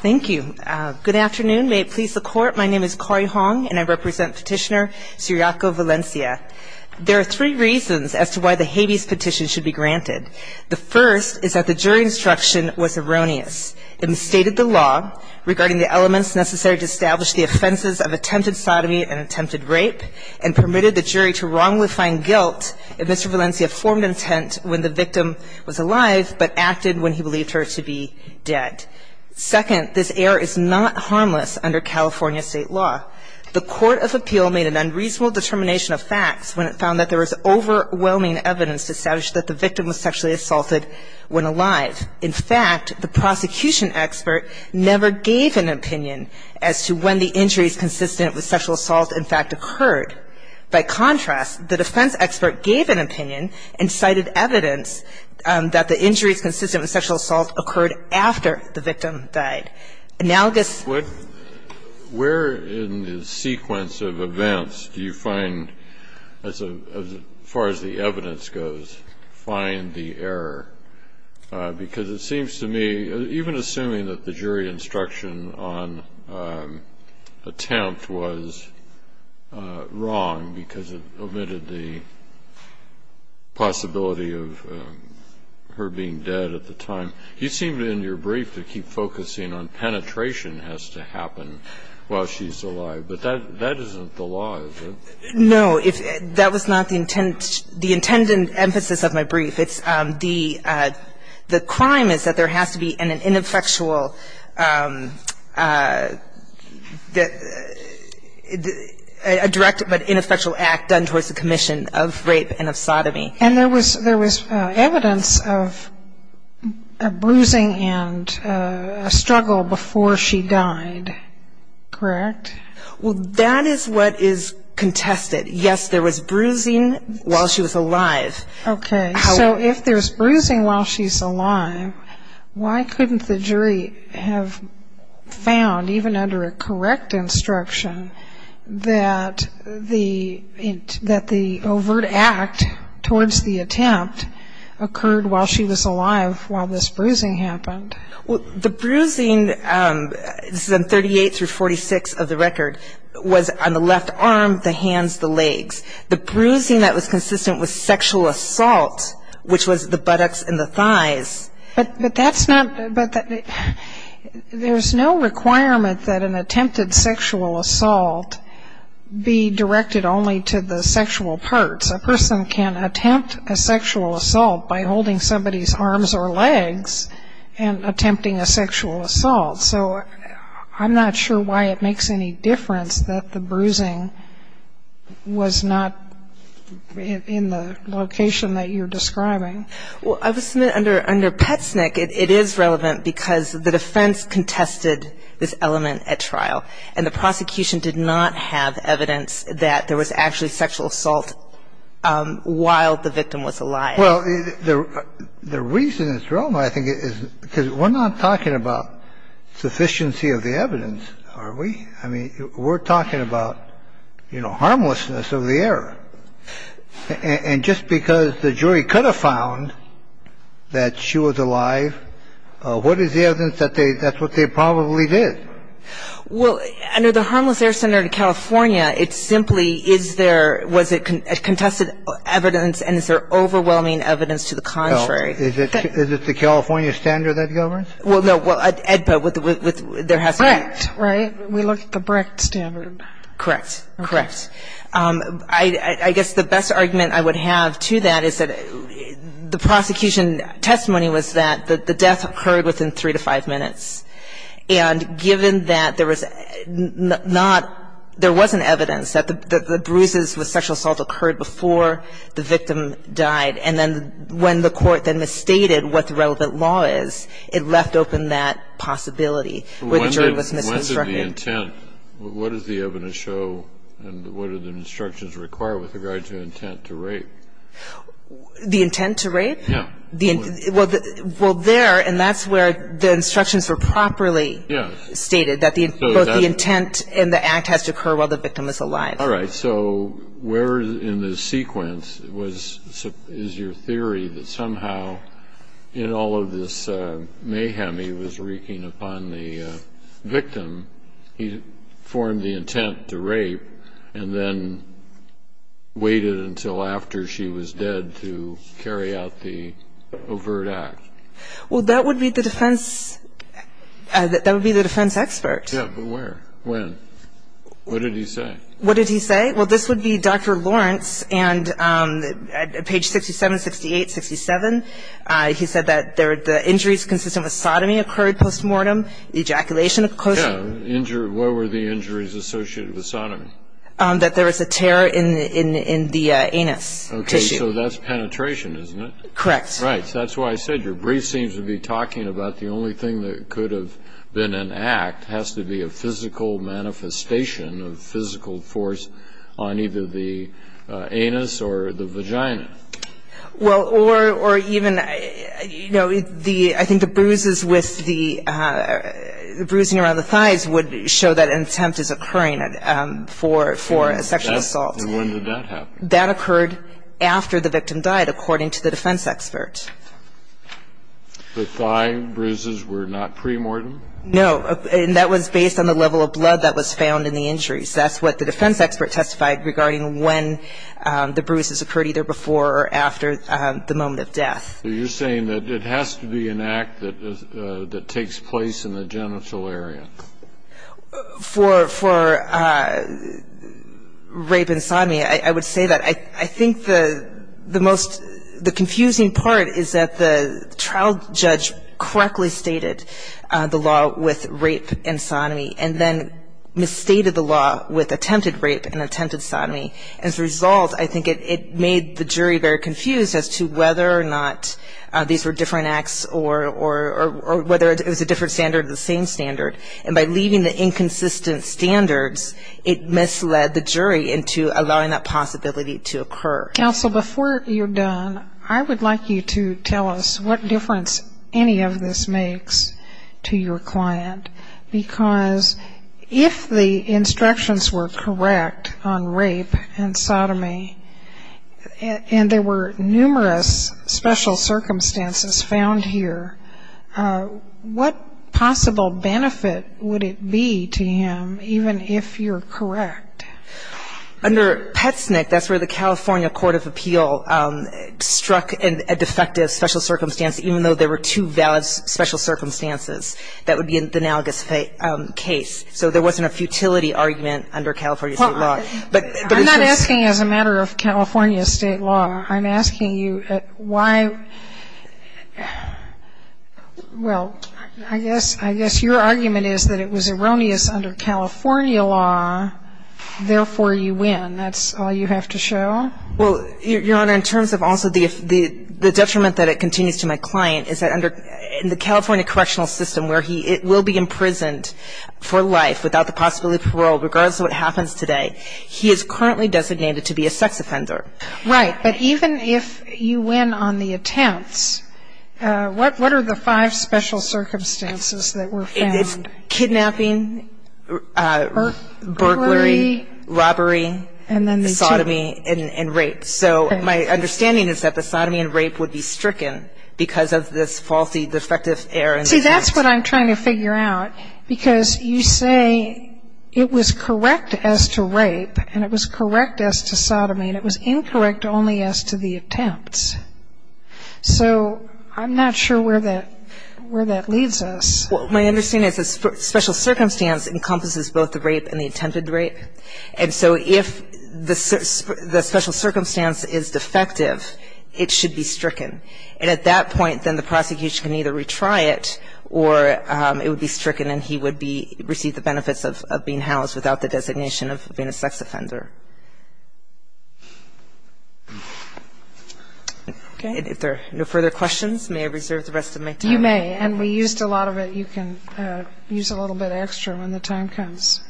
Thank you. Good afternoon. May it please the court, my name is Corrie Hong and I represent petitioner Ciriaco Valencia. There are three reasons as to why the habeas petition should be granted. The first is that the jury instruction was erroneous. It misstated the law regarding the elements necessary to establish the offenses of attempted sodomy and attempted rape and permitted the jury to wrongly find guilt if Mr. Valencia formed an intent when the victim was alive but acted when he believed her to be dead. Second, this error is not harmless under California state law. The court of appeal made an unreasonable determination of facts when it found that there was overwhelming evidence to establish that the victim was sexually assaulted when alive. In fact, the prosecution expert never gave an opinion as to when the injuries consistent with sexual assault in fact occurred. By contrast, the defense expert gave an opinion and cited evidence that the injuries consistent with sexual assault occurred after the victim died. Analogous... Where in the sequence of events do you find, as far as the evidence goes, find the error? Because it seems to me, even assuming that the jury instruction on attempt was wrong because it omitted the possibility of her being dead at the time, you seem in your brief to keep focusing on penetration has to happen while she's alive. But that isn't the law, is it? No. That was not the intended emphasis of my brief. The crime is that there has to be an ineffectual, a direct but ineffectual act done towards the commission of rape and of sodomy. And there was evidence of bruising and a struggle before she died, correct? Well, that is what is contested. Yes, there was bruising while she was alive. Okay. So if there's bruising while she's alive, why couldn't the jury have found, even under a correct instruction, that the overt act towards the attempt occurred while she was alive while this bruising happened? Well, the bruising, this is on 38 through 46 of the record, was on the left arm, the hands, the legs. The bruising that was consistent with sexual assault, which was the buttocks and the thighs. But that's not ñ there's no requirement that an attempted sexual assault be directed only to the sexual parts. A person can attempt a sexual assault by holding somebody's arms or legs and attempting a sexual assault. So I'm not sure why it makes any difference that the bruising was not in the location that you're describing. Well, under Petsnick, it is relevant because the defense contested this element at trial. And the prosecution did not have evidence that there was actually sexual assault while the victim was alive. Well, the reason it's relevant, I think, is because we're not talking about sufficiency of the evidence, are we? I mean, we're talking about, you know, harmlessness of the error. And just because the jury could have found that she was alive, what is the evidence that they ñ that's what they probably did? Well, under the Harmless Errors Center in California, it simply is there ñ was it contested evidence and is there overwhelming evidence to the contrary? No. Is it the California standard that governs? Well, no. Well, EDPA, there has to be ñ BRICT, right? We looked at the BRICT standard. Correct. Correct. I guess the best argument I would have to that is that the prosecution testimony was that the death occurred within three to five minutes. And given that there was not ñ there wasn't evidence that the bruises with sexual assault occurred before the victim died, and then when the court then misstated what the relevant law is, it left open that possibility where the jury was misconstructed. Well, when did the intent ñ what does the evidence show and what are the instructions required with regard to intent to rape? The intent to rape? Yeah. Well, there ñ and that's where the instructions were properly stated, that both the intent and the act has to occur while the victim is alive. All right. So where in the sequence was ñ is your theory that somehow in all of this mayhem he was wreaking upon the victim, he formed the intent to rape and then waited until after she was dead to carry out the overt act? Well, that would be the defense ñ that would be the defense expert. Yeah, but where? When? What did he say? What did he say? Well, this would be Dr. Lawrence, and at page 67, 68, 67, he said that the injuries consistent with sodomy occurred post-mortem, ejaculation of closure. Yeah. Injury ñ what were the injuries associated with sodomy? That there was a tear in the ñ in the anus tissue. Okay. So that's penetration, isn't it? Correct. Right. So that's why I said your brief seems to be talking about the only thing that could have been an act has to be a physical manifestation of physical force on either the anus or the vagina. Well, or even, you know, the ñ I think the bruises with the ñ the bruising around the thighs would show that an attempt is occurring for ñ for a sexual assault. And when did that happen? That occurred after the victim died, according to the defense expert. The thigh bruises were not pre-mortem? No. And that was based on the level of blood that was found in the injuries. That's what the defense expert testified regarding when the bruises occurred either before or after the moment of death. So you're saying that it has to be an act that takes place in the genital area? For ñ for rape and sodomy, I would say that. I think the most ñ the confusing part is that the trial judge correctly stated the law with rape and sodomy and then misstated the law with attempted rape and attempted sodomy. As a result, I think it made the jury very confused as to whether or not these were different acts or whether it was a different standard or the same standard. And by leaving the inconsistent standards, it misled the jury into allowing that possibility to occur. Counsel, before you're done, I would like you to tell us what difference any of this makes to your client, because if the instructions were correct on rape and sodomy and there were numerous special circumstances found here, what possible benefit would it be to him even if you're correct? Under Petsnick, that's where the California Court of Appeal struck a defective special circumstance, even though there were two valid special circumstances. That would be the analogous case. So there wasn't a futility argument under California state law. I'm not asking as a matter of California state law. I'm asking you why ñ well, I guess your argument is that it was erroneous under California law, therefore you win. That's all you have to show? Well, Your Honor, in terms of also the detriment that it continues to my client is that under the California correctional system where he will be imprisoned for life without the possibility of parole, regardless of what happens today, he is currently designated to be a sex offender. Right. But even if you win on the attempts, what are the five special circumstances that were found? Kidnapping, burglary, robbery, sodomy, and rape. So my understanding is that the sodomy and rape would be stricken because of this faulty, defective error. See, that's what I'm trying to figure out, because you say it was correct as to rape and it was correct as to sodomy and it was incorrect only as to the attempts. So I'm not sure where that ñ where that leads us. Well, my understanding is that special circumstance encompasses both the rape and the attempted rape. And so if the special circumstance is defective, it should be stricken. And at that point, then the prosecution can either retry it or it would be stricken and he would be ñ receive the benefits of being housed without the designation of being a sex offender. Okay. If there are no further questions, may I reserve the rest of my time? You may. And we used a lot of it. You can use a little bit extra when the time comes.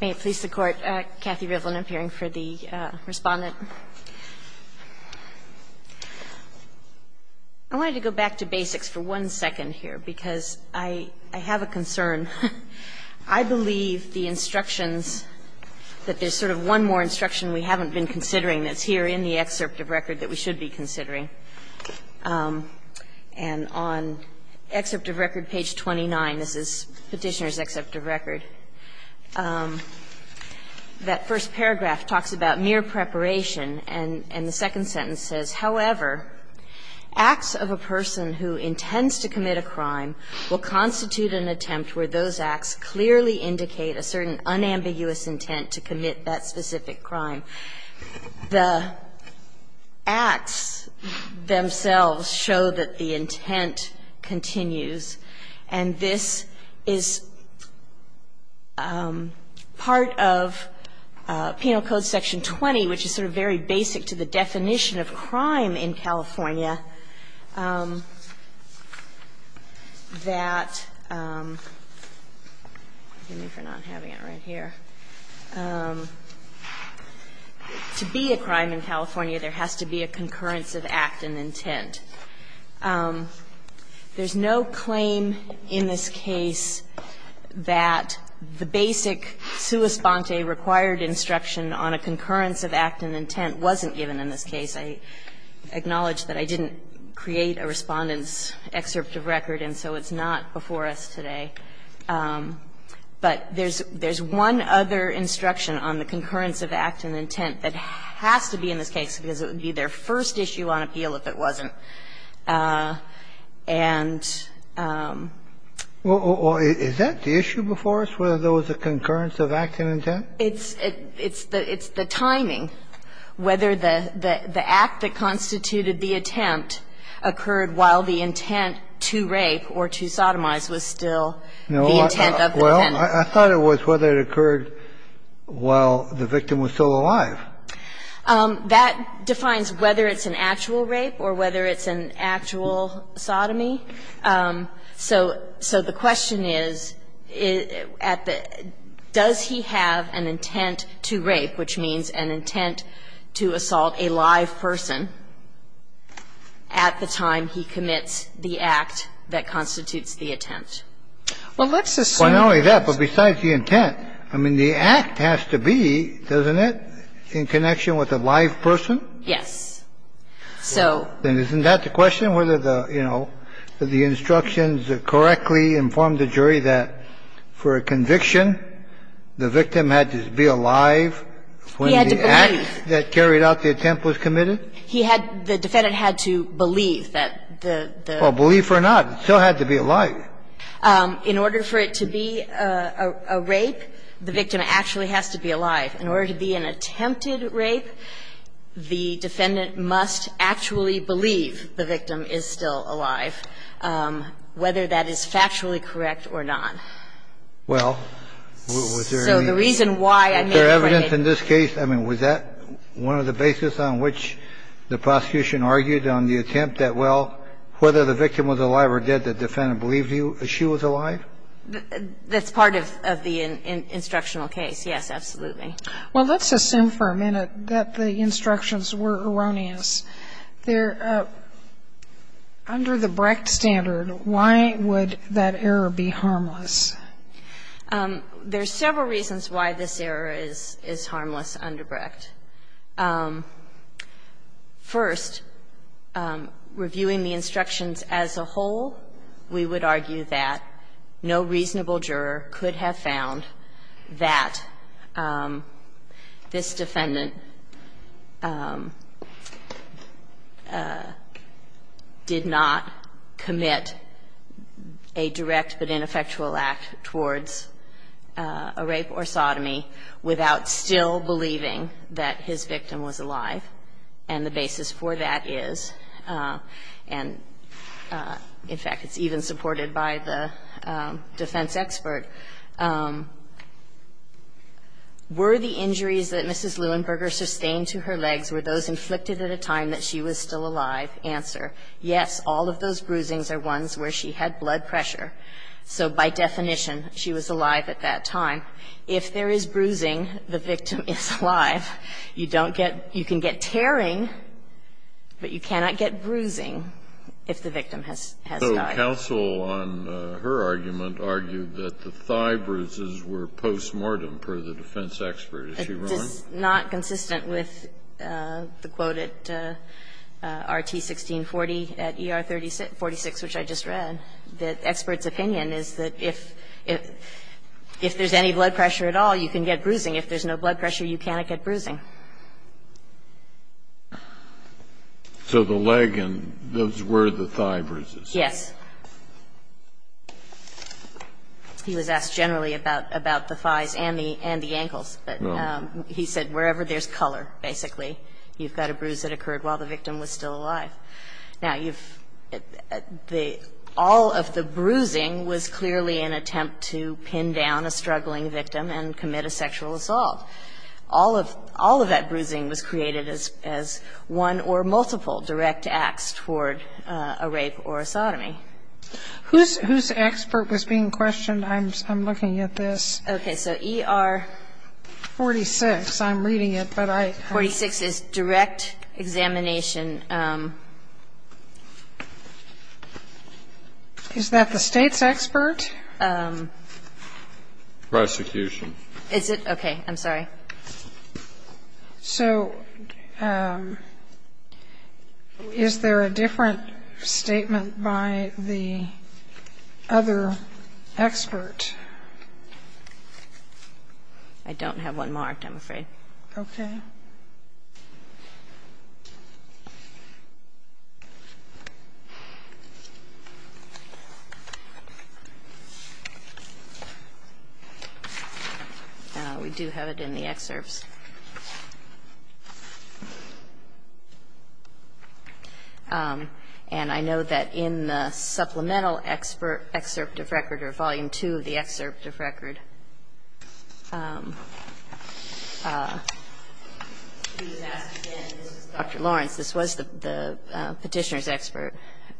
May it please the Court. Kathy Rivlin appearing for the Respondent. I wanted to go back to basics for one second here, because I have a concern. I believe the instructions that there's sort of one more instruction we haven't been considering that's here in the excerpt of record that we should be considering. And on excerpt of record page 29, this is Petitioner's excerpt of record, that first paragraph talks about mere preparation and the second sentence says, However, acts of a person who intends to commit a crime will constitute an attempt where those acts clearly indicate a certain unambiguous intent to commit that specific crime. The acts themselves show that the intent continues. And this is part of Penal Code Section 20, which is sort of very basic to the definition of crime in California, that to be a crime in California, there has to be a concurrence of act and intent. There's no claim in this case that the basic sua sponte, required instruction on a concurrence of act and intent wasn't given in this case. I acknowledge that I didn't create a Respondent's excerpt of record and so it's not before us today. But there's one other instruction on the concurrence of act and intent that has to be in this case, because it would be their first issue on appeal if it wasn't. And the other one is that the issue before us was whether there was a concurrence of act and intent. It's the timing, whether the act that constituted the attempt occurred while the intent to rape or to sodomize was still the intent of the penalty. Well, I thought it was whether it occurred while the victim was still alive. That defines whether it's an actual rape or whether it's an actual sodomy. So the question is, does he have an intent to rape, which means an intent to assault a live person, at the time he commits the act that constitutes the attempt? Well, let's assume that's the case. Well, not only that, but besides the intent, I mean, the act has to be, doesn't it, in connection with a live person? Yes. So. Then isn't that the question, whether the, you know, the instructions correctly inform the jury that for a conviction, the victim had to be alive when the act that carried out the attempt was committed? He had, the defendant had to believe that the... Well, believe or not, it still had to be alive. In order for it to be a rape, the victim actually has to be alive. In order to be an attempted rape, the defendant must actually believe the victim is still alive, whether that is factually correct or not. Well. Was there any... So the reason why... Is there evidence in this case, I mean, was that one of the basis on which the prosecution argued on the attempt that, well, whether the victim was alive or dead, the defendant believed she was alive? That's part of the instructional case, yes, absolutely. Well, let's assume for a minute that the instructions were erroneous. They're under the Brecht standard. Why would that error be harmless? There's several reasons why this error is harmless under Brecht. First, reviewing the instructions as a whole, we would argue that no reasonable juror could have found that this defendant did not commit a direct but ineffectual act towards a rape or sodomy without still believing that his victim was alive. And the basis for that is, and, in fact, it's even supported by the defense expert, were the injuries that Mrs. Leuenberger sustained to her legs, were those inflicted at a time that she was still alive? Answer, yes, all of those bruisings are ones where she had blood pressure. So by definition, she was alive at that time. If there is bruising, the victim is alive. You don't get – you can get tearing, but you cannot get bruising if the victim has died. So counsel, on her argument, argued that the thigh bruises were postmortem per the defense expert. Is she wrong? It's not consistent with the quote at RT 1640 at ER 46, which I just read, that experts' opinion is that if there's any blood pressure at all, you can get bruising. If there's no blood pressure, you cannot get bruising. So the leg and those were the thigh bruises? Yes. He was asked generally about the thighs and the ankles. But he said wherever there's color, basically, you've got a bruise that occurred while the victim was still alive. Now, you've – all of the bruising was clearly an attempt to pin down a struggling victim and commit a sexual assault. All of that bruising was created as one or multiple direct acts toward a rape or a sodomy. Whose expert was being questioned? I'm looking at this. Okay. I'm reading it, but I don't know. 46 is direct examination. Is that the State's expert? Prosecution. Is it? Okay. I'm sorry. So is there a different statement by the other expert? I don't have one marked, I'm afraid. Okay. We do have it in the excerpts. And I know that in the supplemental excerpt of record or volume 2 of the excerpt of record, there was a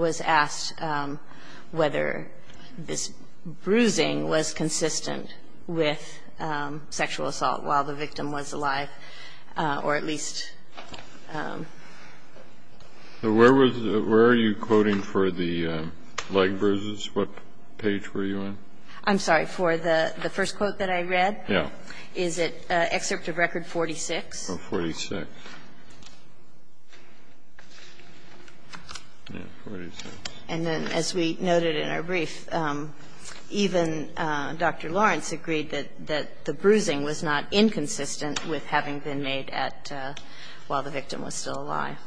question about whether this bruising was consistent with sexual assault while the victim was alive, or at least, where was the – where are you quoting for the leg bruises? What page were you on? I'm sorry. For the first quote that I read? Yeah. Is it excerpt of record 46? Oh, 46. Yeah, 46. And then as we noted in our brief, even Dr. Lawrence agreed that the bruising was not inconsistent with having been made at – while the victim was still alive.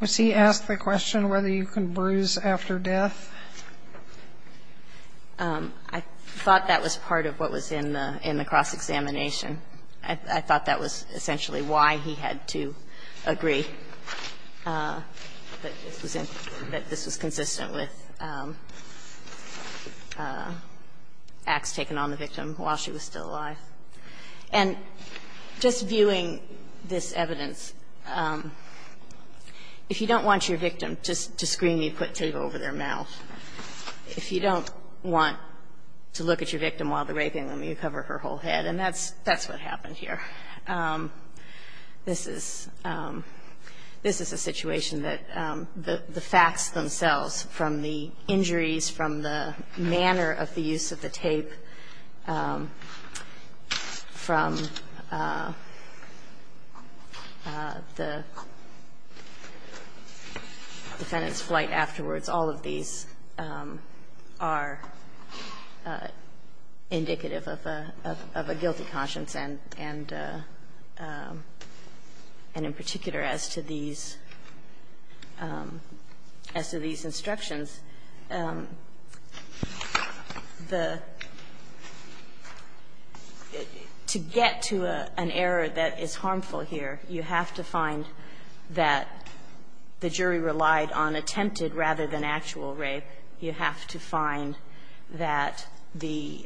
Was he asked the question whether you can bruise after death? I thought that was part of what was in the cross-examination. I thought that was essentially why he had to agree that this was consistent with acts taken on the victim while she was still alive. And just viewing this evidence, if you don't want your victim to scream, you put tape over their mouth. If you don't want to look at your victim while they're raping them, you cover her whole head. And that's what happened here. This is a situation that the facts themselves, from the injuries, from the manner of the use of the tape, from the defendant's flight afterwards, all of these are indicative of a guilty conscience. And in particular as to these instructions, the – to get to an error that is harmful here, you have to find that the jury relied on attempted rather than actual rape. And in particular, you have to find that the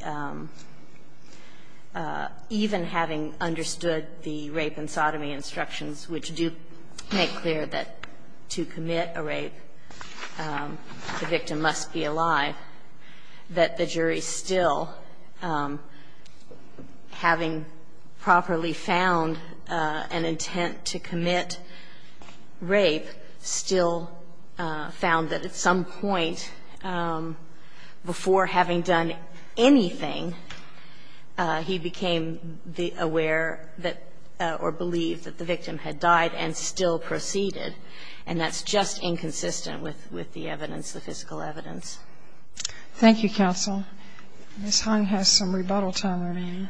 – even having understood the rape and sodomy instructions, which do make clear that to commit a rape, the victim must be alive, that the jury still, having properly found an intent to commit rape, still found that at some point, before having done anything, he became aware that – or believed that the victim had died and still proceeded. And that's just inconsistent with the evidence, the physical evidence. Thank you, counsel. Ms. Hung has some rebuttal time remaining.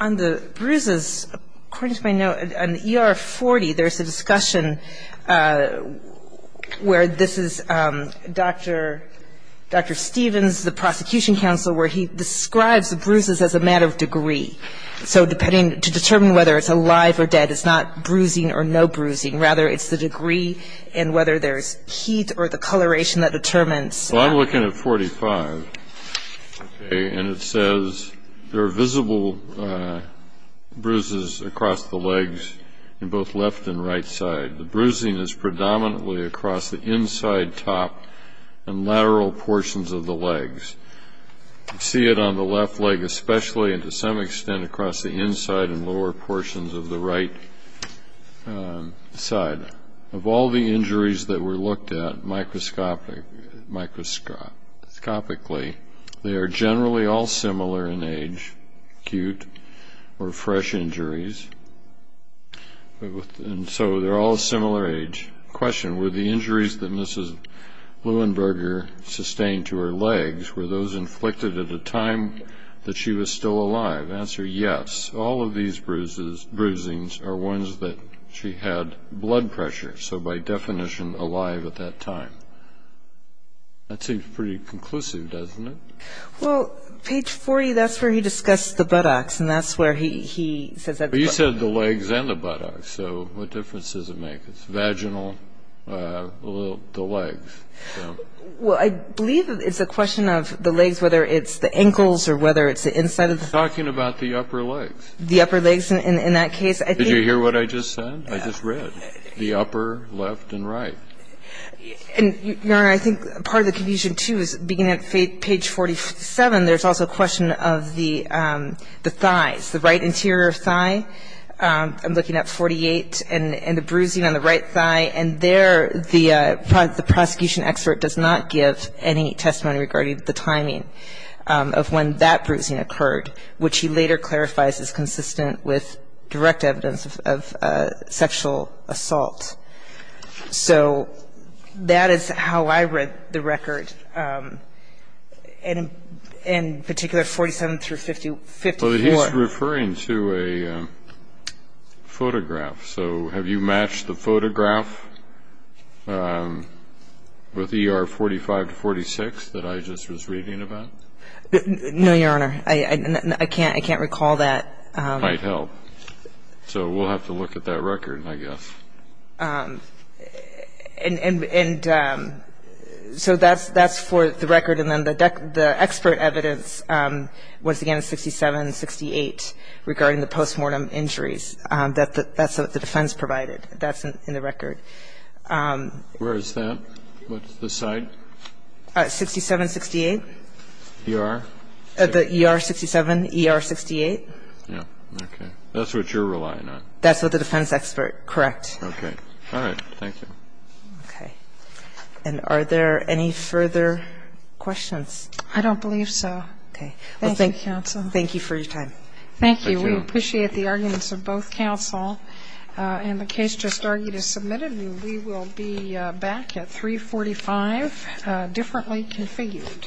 On the bruises, according to my note, on ER 40, there's a discussion where this is Dr. Stevens, the prosecution counsel, where he describes the bruises as a matter of degree. So depending – to determine whether it's alive or dead, it's not bruising and whether there's heat or the coloration that determines. Well, I'm looking at 45. And it says there are visible bruises across the legs in both left and right side. The bruising is predominantly across the inside top and lateral portions of the legs. You see it on the left leg especially and to some extent across the inside and lower portions of the right side. Of all the injuries that were looked at microscopically, they are generally all similar in age, acute or fresh injuries. And so they're all similar age. Question, were the injuries that Mrs. Leuenberger sustained to her legs, were those inflicted at a time that she was still alive? Answer, yes. All of these bruisings are ones that she had blood pressure. So by definition, alive at that time. That seems pretty conclusive, doesn't it? Well, page 40, that's where he discussed the buttocks and that's where he says that the buttocks. But you said the legs and the buttocks. So what difference does it make? It's vaginal, the legs. Did you hear what I just said? I just read the upper left and right. Your Honor, I think part of the confusion, too, is beginning at page 47, there's also a question of the thighs, the right interior thigh. I'm looking at 48 and the bruising on the right thigh. And there, the prosecution expert does not give any testimony regarding the timing of when that bruising occurred, which he later clarifies is consistent with direct evidence of sexual assault. So that is how I read the record, in particular 47 through 54. Well, he's referring to a photograph. So have you matched the photograph with ER 45 to 46 that I just was reading about? No, Your Honor. I can't recall that. It might help. So we'll have to look at that record, I guess. And so that's for the record. And then the expert evidence was, again, 67 and 68 regarding the postmortem injuries. That's what the defense provided. That's in the record. Where is that? What's the site? 67, 68. ER? The ER 67, ER 68. Yeah. Okay. That's what you're relying on. That's what the defense expert, correct. Okay. All right. Thank you. Okay. And are there any further questions? I don't believe so. Okay. Thank you, counsel. Thank you for your time. Thank you. Thank you. We appreciate the arguments of both counsel. And the case just argued is submitted, and we will be back at 345, differently configured.